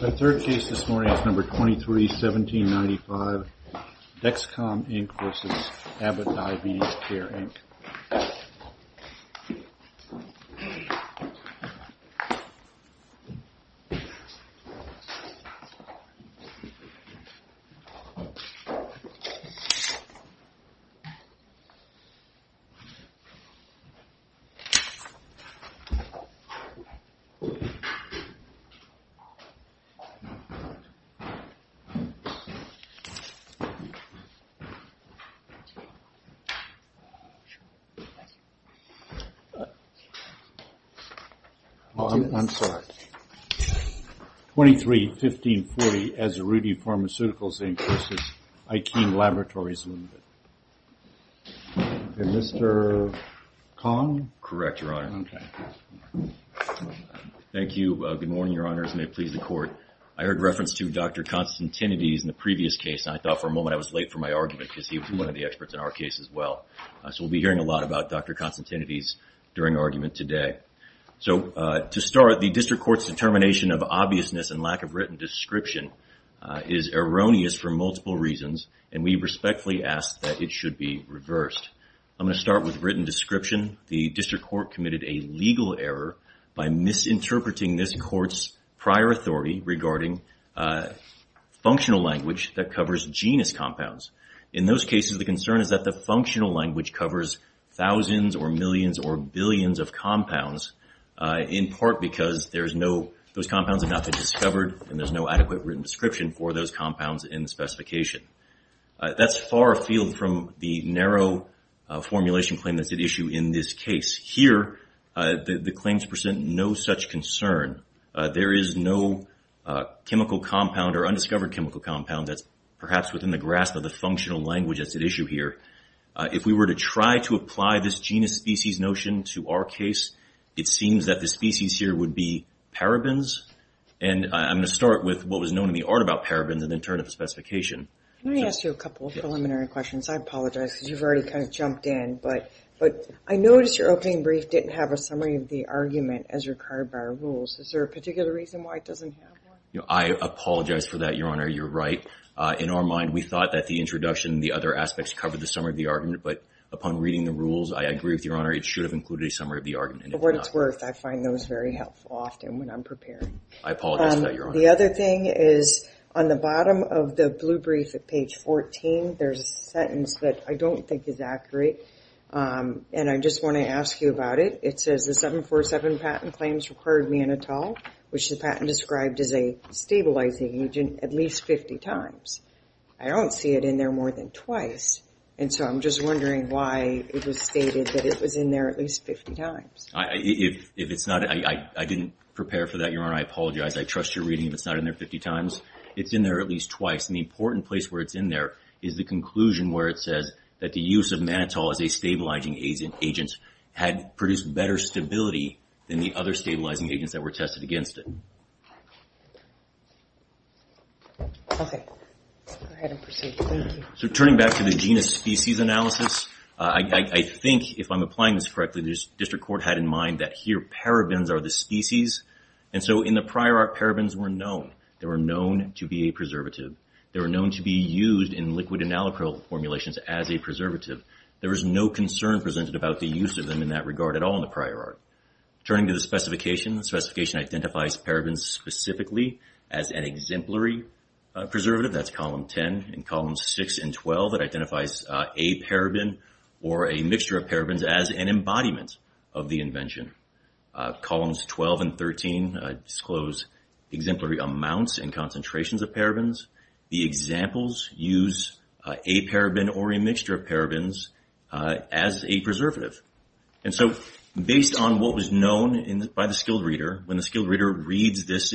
The third case this morning is number 23-1795, Dexcom, Inc. v. Abbott Diabetes Care, Inc. I'm sorry. 23-1540, Azuruti Pharmaceuticals, Inc. v. Alkem Laboratories Ltd. And Mr. Kahn? Correct, Your Honor. Okay. Thank you. Good morning, Your Honors. May it please the Court. I heard reference to Dr. Constantinides in the previous case, and I thought for a moment I was late for my argument because he was one of the experts in our case as well. So we'll be hearing a lot about Dr. Constantinides during argument today. So to start, the District Court's determination of obviousness and lack of written description is erroneous for multiple reasons, and we respectfully ask that it should be reversed. I'm going to start with written description. The District Court committed a legal error by misinterpreting this Court's prior authority regarding functional language that covers genus compounds. In those cases, the concern is that the functional language covers thousands or millions or billions of compounds, in part because those compounds have not been discovered and there's no adequate written description for those compounds in the specification. That's far afield from the narrow formulation claim that's at issue in this case. Here, the claims present no such concern. There is no chemical compound or undiscovered chemical compound that's perhaps within the grasp of the functional language that's at issue here. If we were to try to apply this genus species notion to our case, it seems that the species here would be parabens. And I'm going to start with what was known in the art about parabens and then turn to the specification. Let me ask you a couple of preliminary questions. I apologize because you've already kind of jumped in, but I noticed your opening brief didn't have a summary of the argument as required by our rules. Is there a particular reason why it doesn't have one? I apologize for that, Your Honor. You're right. In our mind, we thought that the introduction and the other aspects covered the summary of the argument, but upon reading the rules, I agree with Your Honor. It should have included a summary of the argument. For what it's worth, I find those very helpful often when I'm preparing. I apologize for that, Your Honor. The other thing is on the bottom of the blue brief at page 14, there's a sentence that I don't think is accurate, and I just want to ask you about it. It says the 747 patent claims required mannitol, which the patent described as a stabilizing agent, at least 50 times. I don't see it in there more than twice, and so I'm just wondering why it was stated that it was in there at least 50 times. If it's not, I didn't prepare for that, Your Honor. I apologize. I trust your reading. If it's not in there 50 times, it's in there at least twice. The important place where it's in there is the conclusion where it says that the use of mannitol as a stabilizing agent had produced better stability than the other stabilizing agents that were tested against it. Okay. Go ahead and proceed. Thank you. Turning back to the genus-species analysis, I think, if I'm applying this correctly, the district court had in mind that here, parabens are the species, and so in the prior art, parabens were known. They were known to be a preservative. They were known to be used in liquid and alkyl formulations as a preservative. There was no concern presented about the use of them in that regard at all in the prior art. Turning to the specification, the specification identifies parabens specifically as an exemplary preservative. That's column 10. In columns 6 and 12, it identifies a paraben or a mixture of parabens as an embodiment of the invention. Columns 12 and 13 disclose exemplary amounts and concentrations of parabens. The examples use a paraben or a mixture of parabens as a preservative. And so based on what was known by the skilled reader, when the skilled reader reads this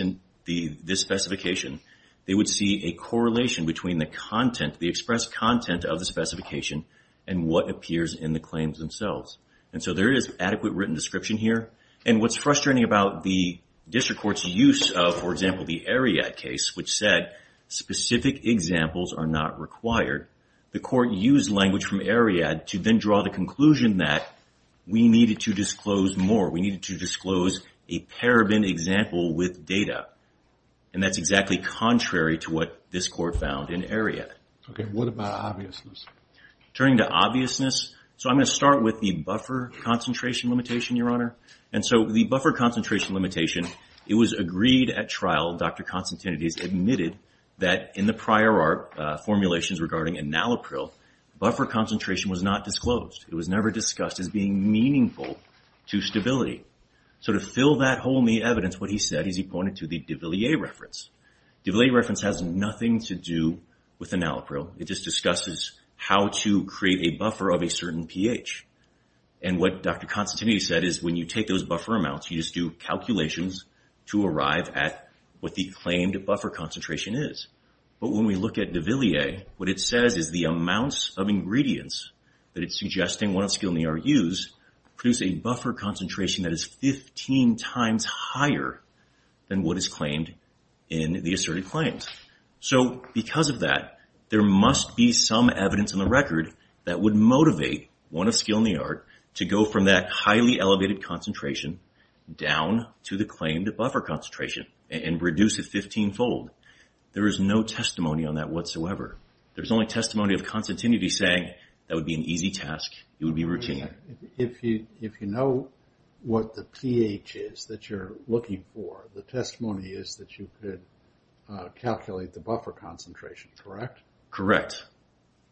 specification, they would see a correlation between the content, the expressed content of the specification, and what appears in the claims themselves. And so there is adequate written description here. And what's frustrating about the district court's use of, for example, the Ariad case, which said specific examples are not required, the court used language from Ariad to then draw the conclusion that we needed to disclose more. We needed to disclose a paraben example with data. And that's exactly contrary to what this court found in Ariad. Okay, what about obviousness? Turning to obviousness, so I'm going to start with the buffer concentration limitation, Your Honor. And so the buffer concentration limitation, it was agreed at trial, Dr. Constantinides admitted, that in the prior art formulations regarding enalapril, buffer concentration was not disclosed. It was never discussed as being meaningful to stability. So to fill that hole in the evidence, what he said is he pointed to the de Villiers reference. De Villiers reference has nothing to do with enalapril. It just discusses how to create a buffer of a certain pH. And what Dr. Constantinides said is when you take those buffer amounts, you just do calculations to arrive at what the claimed buffer concentration is. But when we look at de Villiers, what it says is the amounts of ingredients that it's suggesting, what it's still going to use, produce a buffer concentration that is 15 times higher than what is claimed in the asserted claims. So because of that, there must be some evidence in the record that would motivate one of skill in the art to go from that highly elevated concentration down to the claimed buffer concentration and reduce it 15-fold. There is no testimony on that whatsoever. There's only testimony of Constantinides saying that would be an easy task, it would be routine. If you know what the pH is that you're looking for, the testimony is that you could calculate the buffer concentration, correct? Correct.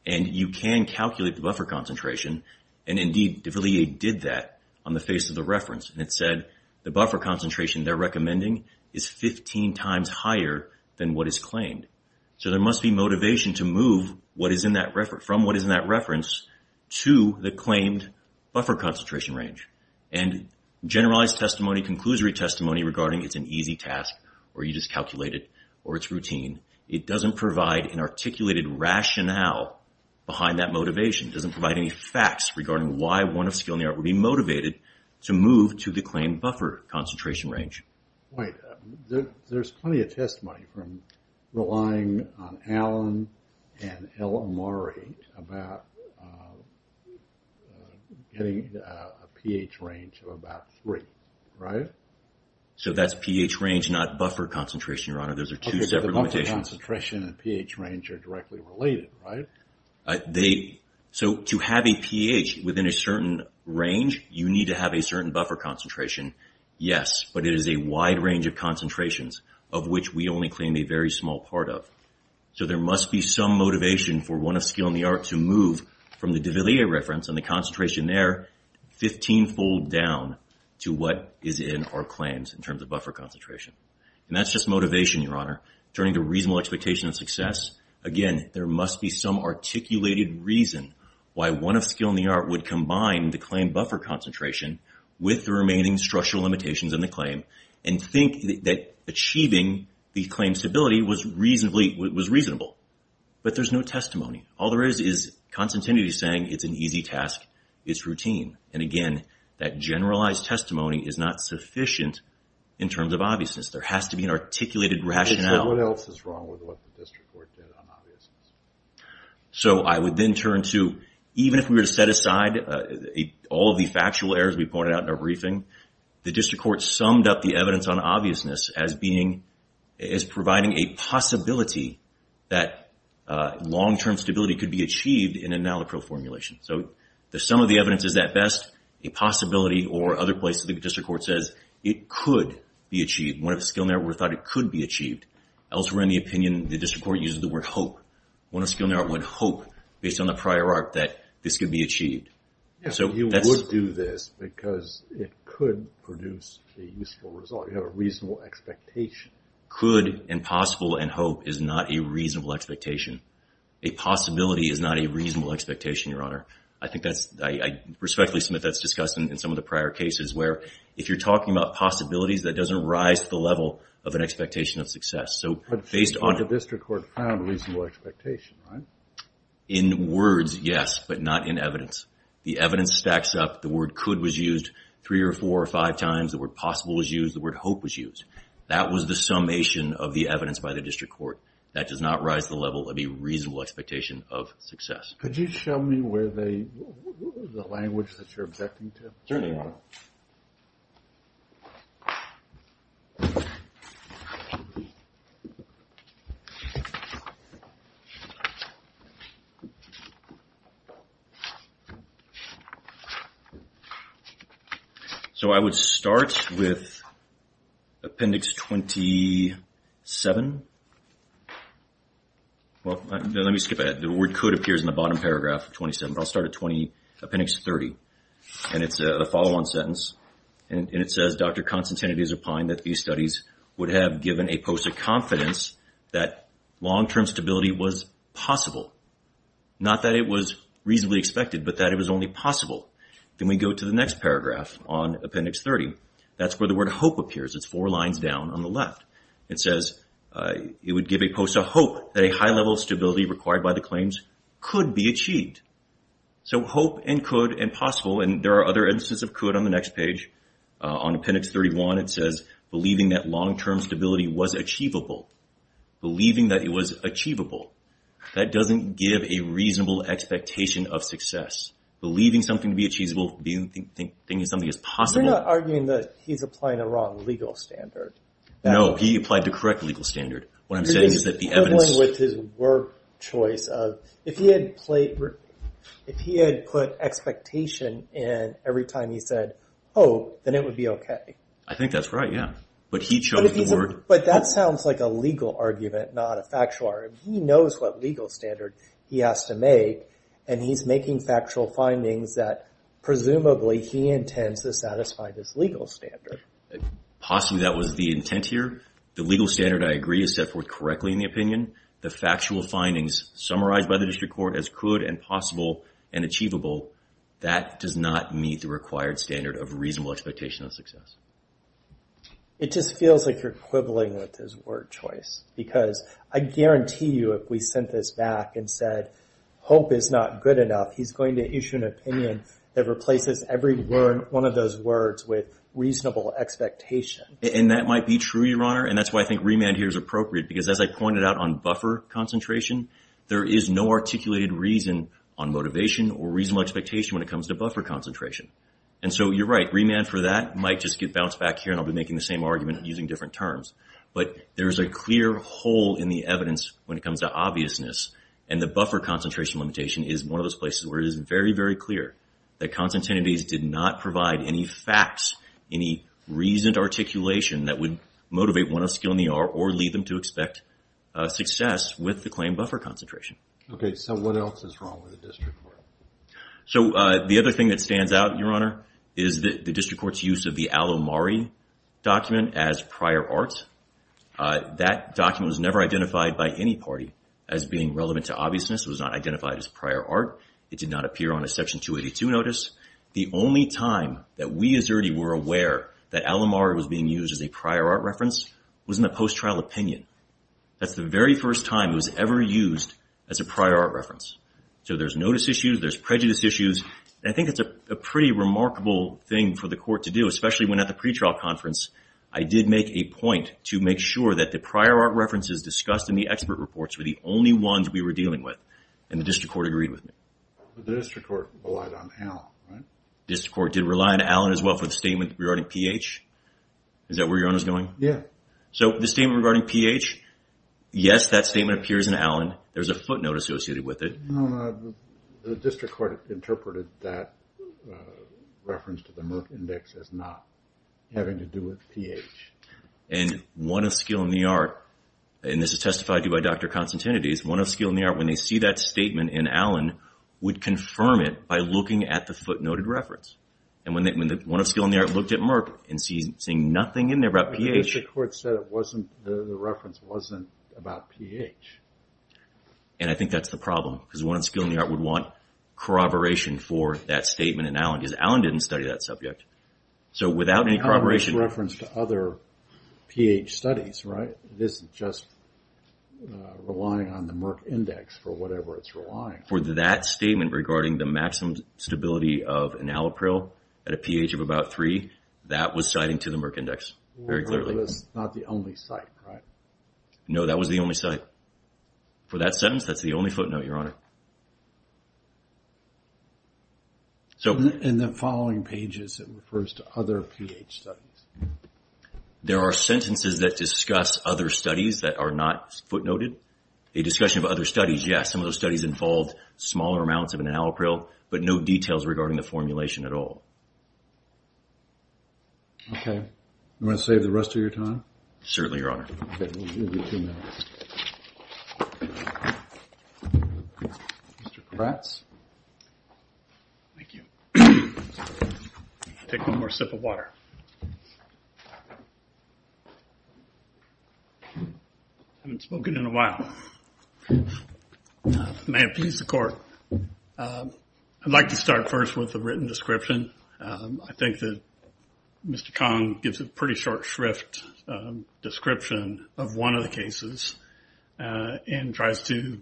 And you can calculate the buffer concentration. And indeed, de Villiers did that on the face of the reference. And it said the buffer concentration they're recommending is 15 times higher than what is claimed. So there must be motivation to move from what is in that reference to the claimed buffer concentration range. And generalized testimony, conclusory testimony regarding it's an easy task, or you just calculate it, or it's routine, it doesn't provide an articulated rationale behind that motivation. It doesn't provide any facts regarding why one of skill in the art would be motivated to move to the claimed buffer concentration range. Right. There's plenty of testimony from relying on Allen and El Amari about getting a pH range of about 3, right? So that's pH range, not buffer concentration, Your Honor. Those are two separate limitations. Okay, so the buffer concentration and pH range are directly related, right? So to have a pH within a certain range, you need to have a certain buffer concentration, yes, but it is a wide range of concentrations of which we only claim a very small part of. So there must be some motivation for one of skill in the art to move from the de Villiers reference and the concentration there 15-fold down to what is in our claims in terms of buffer concentration. And that's just motivation, Your Honor. Turning to reasonable expectation of success. Again, there must be some articulated reason why one of skill in the art would combine the claim buffer concentration with the remaining structural limitations in the claim and think that achieving the claim stability was reasonable. But there's no testimony. All there is is Constantinity saying it's an easy task, it's routine. And again, that generalized testimony is not sufficient in terms of obviousness. There has to be an articulated rationale. What else is wrong with what the district court did on obviousness? So I would then turn to, even if we were to set aside all of the factual errors we pointed out in our briefing, the district court summed up the evidence on obviousness as providing a possibility that long-term stability could be achieved in a nallochrill formulation. So the sum of the evidence is at best a possibility or other place the district court says it could be achieved. One of the skill in the art thought it could be achieved. Elsewhere in the opinion, the district court uses the word hope. One of the skill in the art would hope, based on the prior art, that this could be achieved. You would do this because it could produce a useful result. You have a reasonable expectation. Could and possible and hope is not a reasonable expectation. A possibility is not a reasonable expectation, Your Honor. I respectfully submit that's discussed in some of the prior cases where if you're talking about possibilities that doesn't rise to the level of an expectation of success. But the district court found a reasonable expectation, right? In words, yes, but not in evidence. The evidence stacks up. The word could was used three or four or five times. The word possible was used. The word hope was used. That was the summation of the evidence by the district court. Could you show me the language that you're objecting to? Certainly, Your Honor. So I would start with Appendix 27. Well, let me skip ahead. The word could appears in the bottom paragraph of 27, but I'll start at 20, Appendix 30. And it's a follow-on sentence, and it says, Dr. Konstantinides opined that these studies would have given a post of confidence that long-term stability was possible. Not that it was reasonably expected, but that it was only possible. Then we go to the next paragraph on Appendix 30. That's where the word hope appears. It's four lines down on the left. It says it would give a post of hope that a high level of stability required by the claims could be achieved. So hope and could and possible. And there are other instances of could on the next page. On Appendix 31, it says believing that long-term stability was achievable. Believing that it was achievable. That doesn't give a reasonable expectation of success. Believing something to be achievable, thinking something is possible. You're not arguing that he's applying a wrong legal standard. No, he applied the correct legal standard. What I'm saying is that the evidence... You're just quibbling with his word choice of... If he had put expectation in every time he said hope, then it would be okay. I think that's right, yeah. But he chose the word... But that sounds like a legal argument, not a factual argument. He knows what legal standard he has to make, and he's making factual findings that presumably he intends to satisfy this legal standard. Possibly that was the intent here. The legal standard, I agree, is set forth correctly in the opinion. The factual findings summarized by the district court as could and possible and achievable, that does not meet the required standard of reasonable expectation of success. It just feels like you're quibbling with his word choice because I guarantee you if we sent this back and said hope is not good enough, he's going to issue an opinion that replaces every one of those words with reasonable expectation. And that might be true, Your Honor, and that's why I think remand here is appropriate because as I pointed out on buffer concentration, there is no articulated reason on motivation or reasonable expectation when it comes to buffer concentration. And so you're right, remand for that might just get bounced back here, and I'll be making the same argument using different terms. But there is a clear hole in the evidence when it comes to obviousness, and the buffer concentration limitation is one of those places where it is very, very clear that Constantinides did not provide any facts, any reasoned articulation that would motivate one of skill in the art or lead them to expect success with the claim buffer concentration. Okay, so what else is wrong with the district court? So the other thing that stands out, Your Honor, is the district court's use of the al-Omari document as prior art. That document was never identified by any party as being relevant to obviousness. It was not identified as prior art. It did not appear on a Section 282 notice. The only time that we as Erty were aware that al-Omari was being used as a prior art reference was in the post-trial opinion. That's the very first time it was ever used as a prior art reference. So there's notice issues, there's prejudice issues, and I think it's a pretty remarkable thing for the court to do, especially when at the pretrial conference, I did make a point to make sure that the prior art references discussed in the expert reports were the only ones we were dealing with, and the district court agreed with me. But the district court relied on Allen, right? The district court did rely on Allen as well for the statement regarding pH. Is that where Your Honor is going? Yeah. So the statement regarding pH, yes, that statement appears in Allen. There's a footnote associated with it. The district court interpreted that reference to the Merck index as not having to do with pH. And one of skill in the art, and this is testified to by Dr. Constantinides, one of skill in the art, when they see that statement in Allen, would confirm it by looking at the footnoted reference. And when one of skill in the art looked at Merck and seeing nothing in there about pH. The district court said the reference wasn't about pH. And I think that's the problem. Because one of skill in the art would want corroboration for that statement in Allen. Because Allen didn't study that subject. So without any corroboration. That's a reference to other pH studies, right? It isn't just relying on the Merck index for whatever it's relying on. For that statement regarding the maximum stability of an allopril at a pH of about 3, that was citing to the Merck index, very clearly. That was not the only site, right? No, that was the only site. For that sentence, that's the only footnote, Your Honor. So in the following pages, it refers to other pH studies. There are sentences that discuss other studies that are not footnoted. A discussion of other studies, yes. Some of those studies involved smaller amounts of an allopril, but no details regarding the formulation at all. Okay. You want to save the rest of your time? Certainly, Your Honor. Mr. Kratz. Thank you. I'll take one more sip of water. I haven't spoken in a while. May it please the Court. I'd like to start first with the written description. I think that Mr. Kong gives a pretty short, shrift description of one of the cases and tries to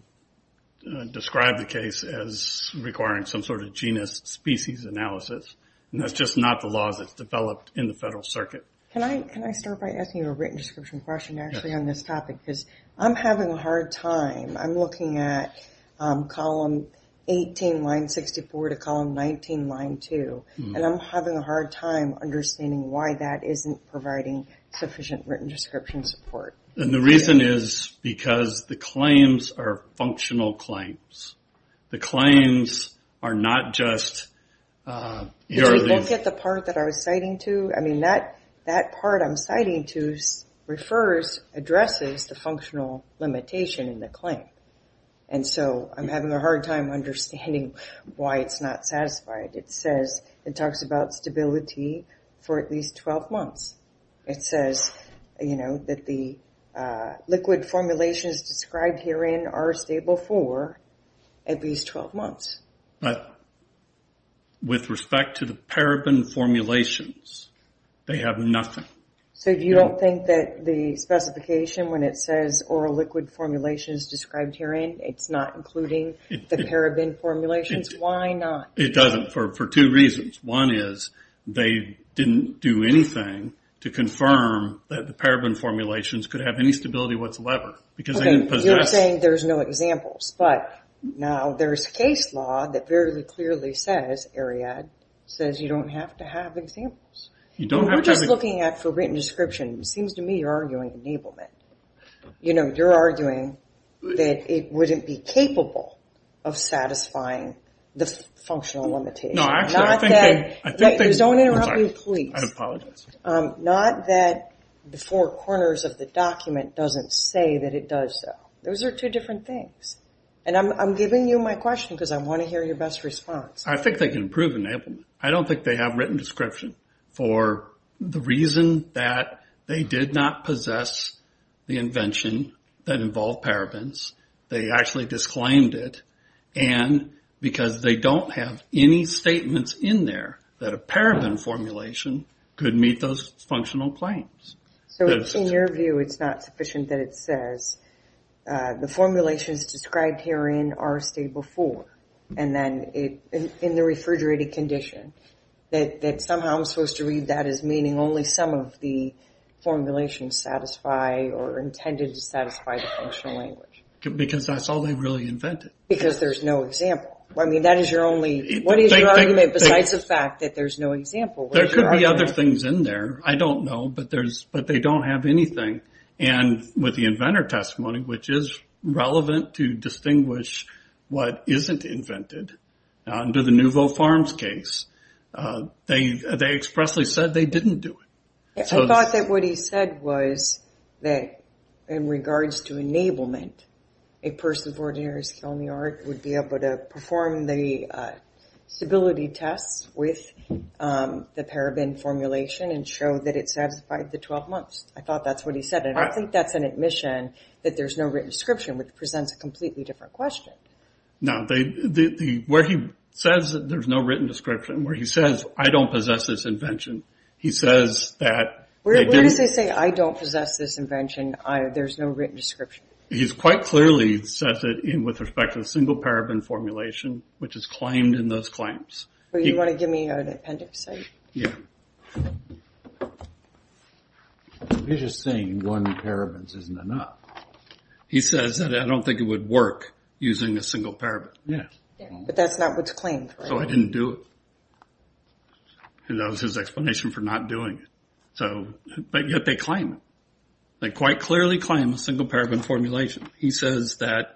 describe the case as requiring some sort of genus species analysis. And that's just not the laws that's developed in the Federal Circuit. Can I start by asking you a written description question, actually, on this topic? Because I'm having a hard time. I'm looking at Column 18, Line 64, to Column 19, Line 2, and I'm having a hard time understanding why that isn't providing sufficient written description support. And the reason is because the claims are functional claims. The claims are not just... Did you look at the part that I was citing to? I mean, that part I'm citing to refers, addresses the functional limitation in the claim. And so I'm having a hard time understanding why it's not satisfied. It says it talks about stability for at least 12 months. It says that the liquid formulations described herein are stable for at least 12 months. But with respect to the paraben formulations, they have nothing. So you don't think that the specification when it says oral liquid formulations described herein, it's not including the paraben formulations? Why not? It doesn't, for two reasons. One is they didn't do anything to confirm that the paraben formulations could have any stability whatsoever. You're saying there's no examples, but now there's case law that very clearly says, ARIAD, says you don't have to have examples. You're just looking at for written description. It seems to me you're arguing enablement. You're arguing that it wouldn't be capable of satisfying the functional limitation. Don't interrupt me, please. I apologize. Not that the four corners of the document doesn't say that it does so. Those are two different things. And I'm giving you my question because I want to hear your best response. I think they can prove enablement. I don't think they have written description for the reason that they did not possess the invention that involved parabens. They actually disclaimed it. And because they don't have any statements in there that a paraben formulation could meet those functional claims. So in your view, it's not sufficient that it says, The formulations described herein are state before and then in the refrigerated condition. That somehow I'm supposed to read that as meaning only some of the formulations satisfy or intended to satisfy the functional language. Because that's all they really invented. Because there's no example. What is your argument besides the fact that there's no example? There could be other things in there. I don't know. But they don't have anything. And with the inventor testimony, which is relevant to distinguish what isn't invented under the Nouveau Farms case, they expressly said they didn't do it. I thought that what he said was that in regards to enablement, a person of ordinary skill in the art would be able to perform the stability tests with the paraben formulation and show that it satisfied the 12 months. I thought that's what he said. And I think that's an admission that there's no written description, which presents a completely different question. Now, where he says that there's no written description, where he says, I don't possess this invention. He says that. Where does he say I don't possess this invention? There's no written description. He's quite clearly says that with respect to the single paraben formulation, which is claimed in those claims. You want to give me an appendix? Yeah. He's just saying one paraben isn't enough. He says that I don't think it would work using a single paraben. Yeah. But that's not what's claimed. So I didn't do it. And that was his explanation for not doing it. But yet they claim it. They quite clearly claim a single paraben formulation. He says that.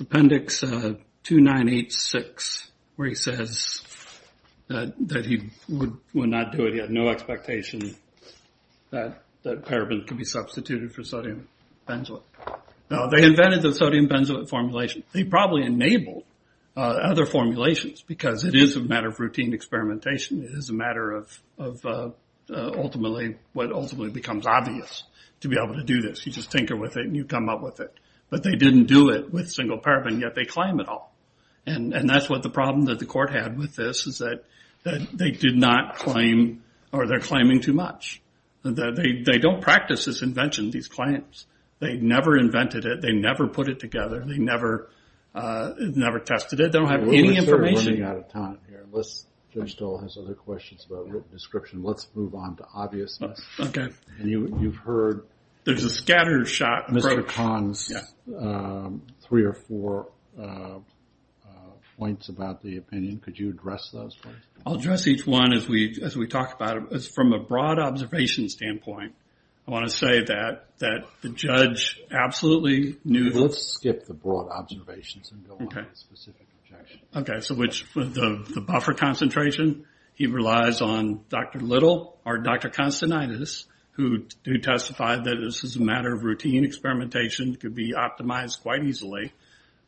Appendix 2986, where he says that he would not do it. He had no expectation that paraben could be substituted for sodium benzoate. Now, they invented the sodium benzoate formulation. They probably enabled other formulations because it is a matter of routine experimentation. It is a matter of ultimately what ultimately becomes obvious to be able to do this. You just tinker with it and you come up with it. But they didn't do it with single paraben, yet they claim it all. And that's what the problem that the court had with this, is that they did not claim or they're claiming too much. They don't practice this invention, these claims. They never invented it. They never put it together. They never tested it. They don't have any information. We're running out of time here. Jim still has other questions about written description. Let's move on to obviousness. Okay. And you've heard. There's a scatter shot. Mr. Kahn's three or four points about the opinion. Could you address those, please? I'll address each one as we talk about it. From a broad observation standpoint, I want to say that the judge absolutely knew. Let's skip the broad observations and go on to specific objections. Okay. So the buffer concentration, he relies on Dr. Little or Dr. Konstantinidis, who testified that this is a matter of routine experimentation. It could be optimized quite easily.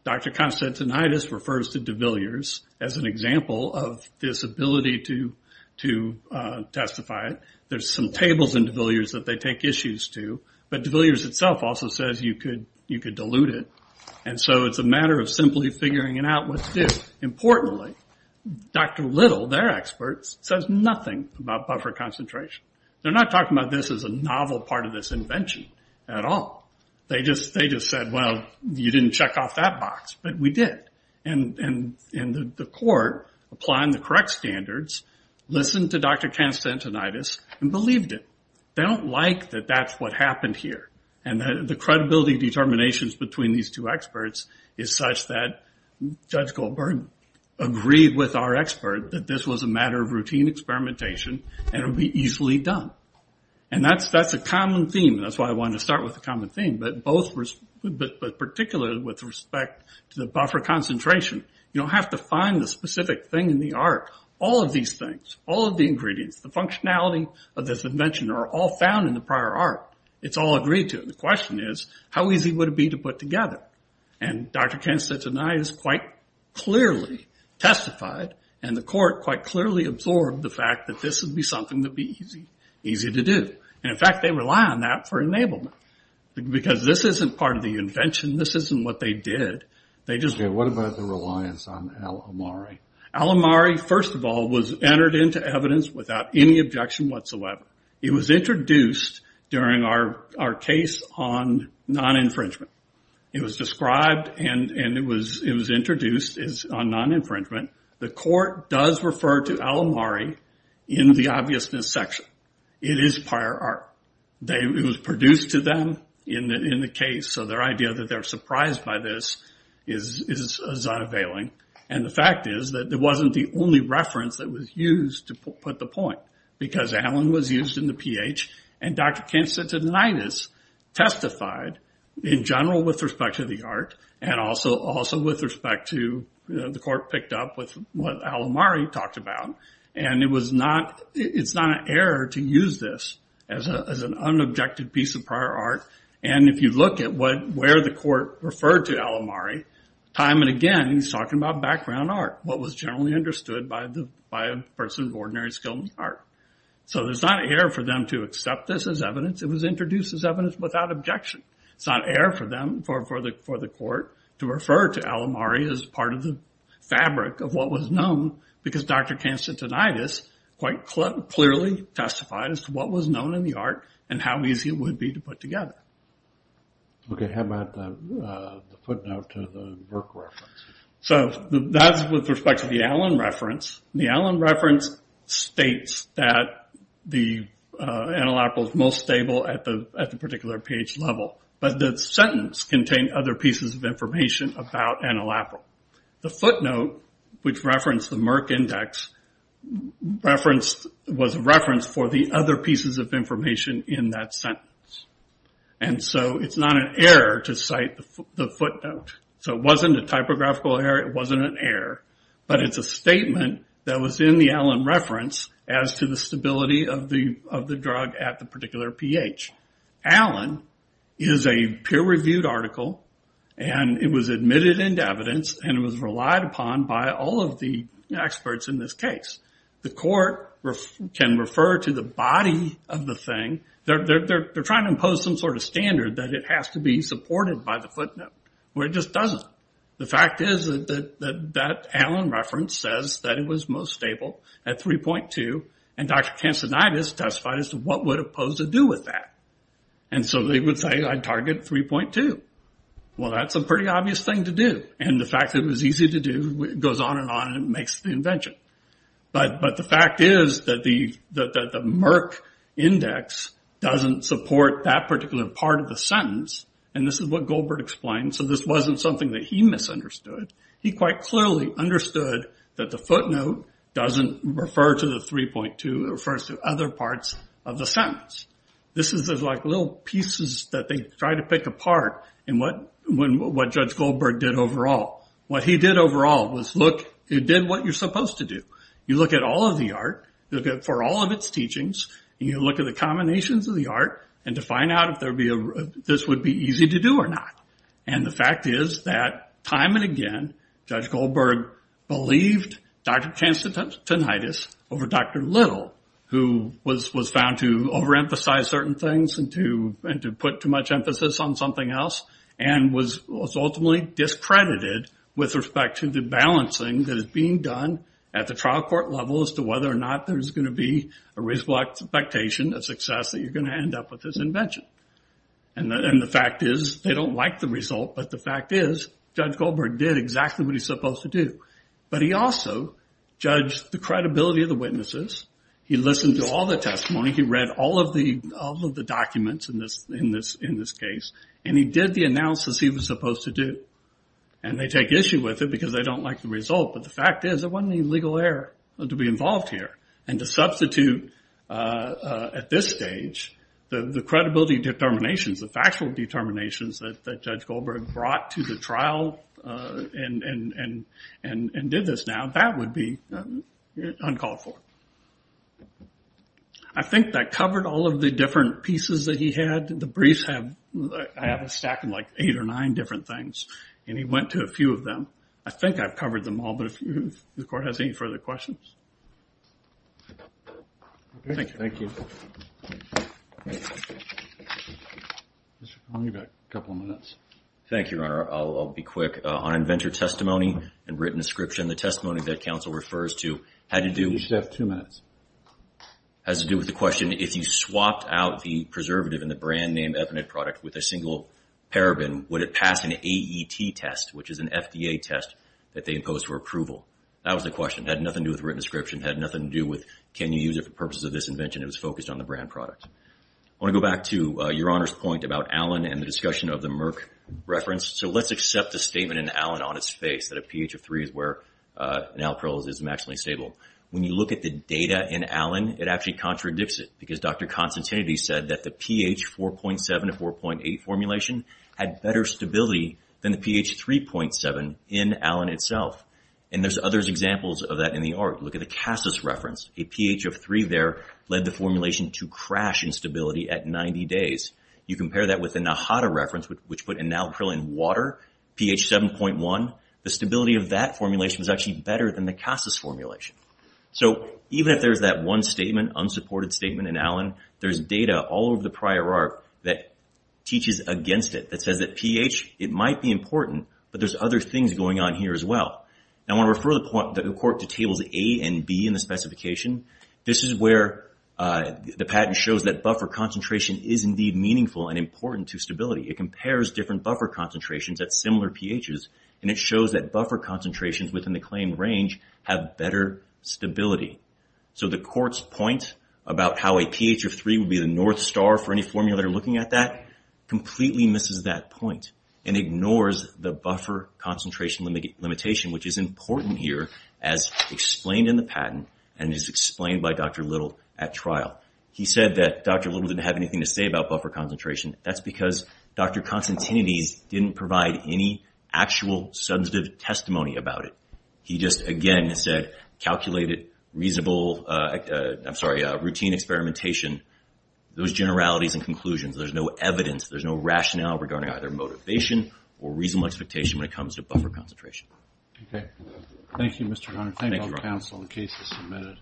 Dr. Konstantinidis refers to de Villiers as an example of this ability to testify. There's some tables in de Villiers that they take issues to. But de Villiers itself also says you could dilute it. And so it's a matter of simply figuring it out what to do. Importantly, Dr. Little, their experts, says nothing about buffer concentration. They're not talking about this as a novel part of this invention at all. They just said, well, you didn't check off that box. But we did. And the court, applying the correct standards, listened to Dr. Konstantinidis and believed it. They don't like that that's what happened here. And the credibility determinations between these two experts is such that Judge Goldberg agreed with our expert that this was a matter of routine experimentation and it would be easily done. And that's a common theme. That's why I wanted to start with a common theme. But particularly with respect to the buffer concentration, you don't have to find the specific thing in the art. All of these things, all of the ingredients, the functionality of this invention are all found in the prior art. It's all agreed to. The question is, how easy would it be to put together? And Dr. Konstantinidis quite clearly testified, and the court quite clearly absorbed the fact that this would be something that would be easy to do. And, in fact, they rely on that for enablement. Because this isn't part of the invention. This isn't what they did. They just did. What about the reliance on Al-Omari? Al-Omari, first of all, was entered into evidence without any objection whatsoever. It was introduced during our case on non-infringement. It was described and it was introduced on non-infringement. The court does refer to Al-Omari in the obviousness section. It is prior art. It was produced to them in the case, so their idea that they're surprised by this is unavailing. And the fact is that it wasn't the only reference that was used to put the point. Because Allen was used in the pH, and Dr. Konstantinidis testified in general with respect to the art, and also with respect to the court picked up with what Al-Omari talked about. And it's not an error to use this as an unobjective piece of prior art. And if you look at where the court referred to Al-Omari, time and again, he's talking about background art, what was generally understood by a person of ordinary skill in art. So there's not an error for them to accept this as evidence. It was introduced as evidence without objection. It's not error for them, for the court, to refer to Al-Omari as part of the fabric of what was known, because Dr. Konstantinidis quite clearly testified as to what was known in the art and how easy it would be to put together. Okay, how about the footnote to the Burke reference? So that's with respect to the Allen reference. The Allen reference states that the enolapyl is most stable at the particular pH level, but the sentence contained other pieces of information about enolapyl. The footnote, which referenced the Merck index, was a reference for the other pieces of information in that sentence. And so it's not an error to cite the footnote. So it wasn't a typographical error. It wasn't an error. But it's a statement that was in the Allen reference as to the stability of the drug at the particular pH. Allen is a peer-reviewed article, and it was admitted into evidence, and it was relied upon by all of the experts in this case. The court can refer to the body of the thing. They're trying to impose some sort of standard that it has to be supported by the footnote, where it just doesn't. The fact is that that Allen reference says that it was most stable at 3.2, and Dr. Kansenitis testified as to what would it pose to do with that. And so they would say, I'd target 3.2. Well, that's a pretty obvious thing to do, and the fact that it was easy to do goes on and on and makes the invention. But the fact is that the Merck index doesn't support that particular part of the sentence, and this is what Goldberg explained. So this wasn't something that he misunderstood. He quite clearly understood that the footnote doesn't refer to the 3.2. It refers to other parts of the sentence. This is like little pieces that they tried to pick apart in what Judge Goldberg did overall. What he did overall was look, he did what you're supposed to do. You look at all of the art, look for all of its teachings, and you look at the combinations of the art, and to find out if this would be easy to do or not. And the fact is that time and again, Judge Goldberg believed Dr. Kansenitis over Dr. Little, who was found to overemphasize certain things and to put too much emphasis on something else, and was ultimately discredited with respect to the balancing that is being done at the trial court level as to whether or not there's going to be a reasonable expectation of success that you're going to end up with this invention. And the fact is they don't like the result, but the fact is Judge Goldberg did exactly what he's supposed to do. But he also judged the credibility of the witnesses. He listened to all the testimony. He read all of the documents in this case, and he did the analysis he was supposed to do. And they take issue with it because they don't like the result, but the fact is there wasn't any legal error to be involved here. And to substitute at this stage, the credibility determinations, the factual determinations that Judge Goldberg brought to the trial and did this now, that would be uncalled for. I think that covered all of the different pieces that he had. The briefs have a stack of like eight or nine different things, and he went to a few of them. I think I've covered them all, but if the Court has any further questions. Thank you. Thank you. You've got a couple of minutes. Thank you, Your Honor. I'll be quick. On inventor testimony and written description, the testimony that counsel refers to had to do with the question, if you swapped out the preservative in the brand name eponid product with a single paraben, would it pass an AET test, which is an FDA test that they impose for approval? That was the question. It had nothing to do with written description. It had nothing to do with can you use it for purposes of this invention. It was focused on the brand product. I want to go back to Your Honor's point about Allen and the discussion of the Merck reference. So let's accept the statement in Allen on its face that a pH of three is where an alkyl is maximally stable. When you look at the data in Allen, it actually contradicts it because Dr. Constantinides said that the pH 4.7 to 4.8 formulation had better stability than the pH 3.7 in Allen itself. And there's other examples of that in the art. Look at the Cassis reference. A pH of three there led the formulation to crash in stability at 90 days. You compare that with the Nahata reference, which put an alkyl in water, pH 7.1. The stability of that formulation was actually better than the Cassis formulation. So even if there's that one statement, unsupported statement in Allen, there's data all over the prior art that teaches against it, that says that pH, it might be important, but there's other things going on here as well. Now I want to refer the court to tables A and B in the specification. This is where the patent shows that buffer concentration is indeed meaningful and important to stability. It compares different buffer concentrations at similar pHs, and it shows that buffer concentrations within the claimed range have better stability. So the court's point about how a pH of three would be the north star for any patent, often misses that point and ignores the buffer concentration limitation, which is important here as explained in the patent and is explained by Dr. Little at trial. He said that Dr. Little didn't have anything to say about buffer concentration. That's because Dr. Constantinides didn't provide any actual substantive testimony about it. He just, again, said calculated, reasonable, I'm sorry, routine experimentation, those generalities and conclusions. There's no evidence. There's no rationale regarding either motivation or reasonable expectation when it comes to buffer concentration. Okay. Thank you, Mr. Hunter. Thank you, counsel, the case is submitted.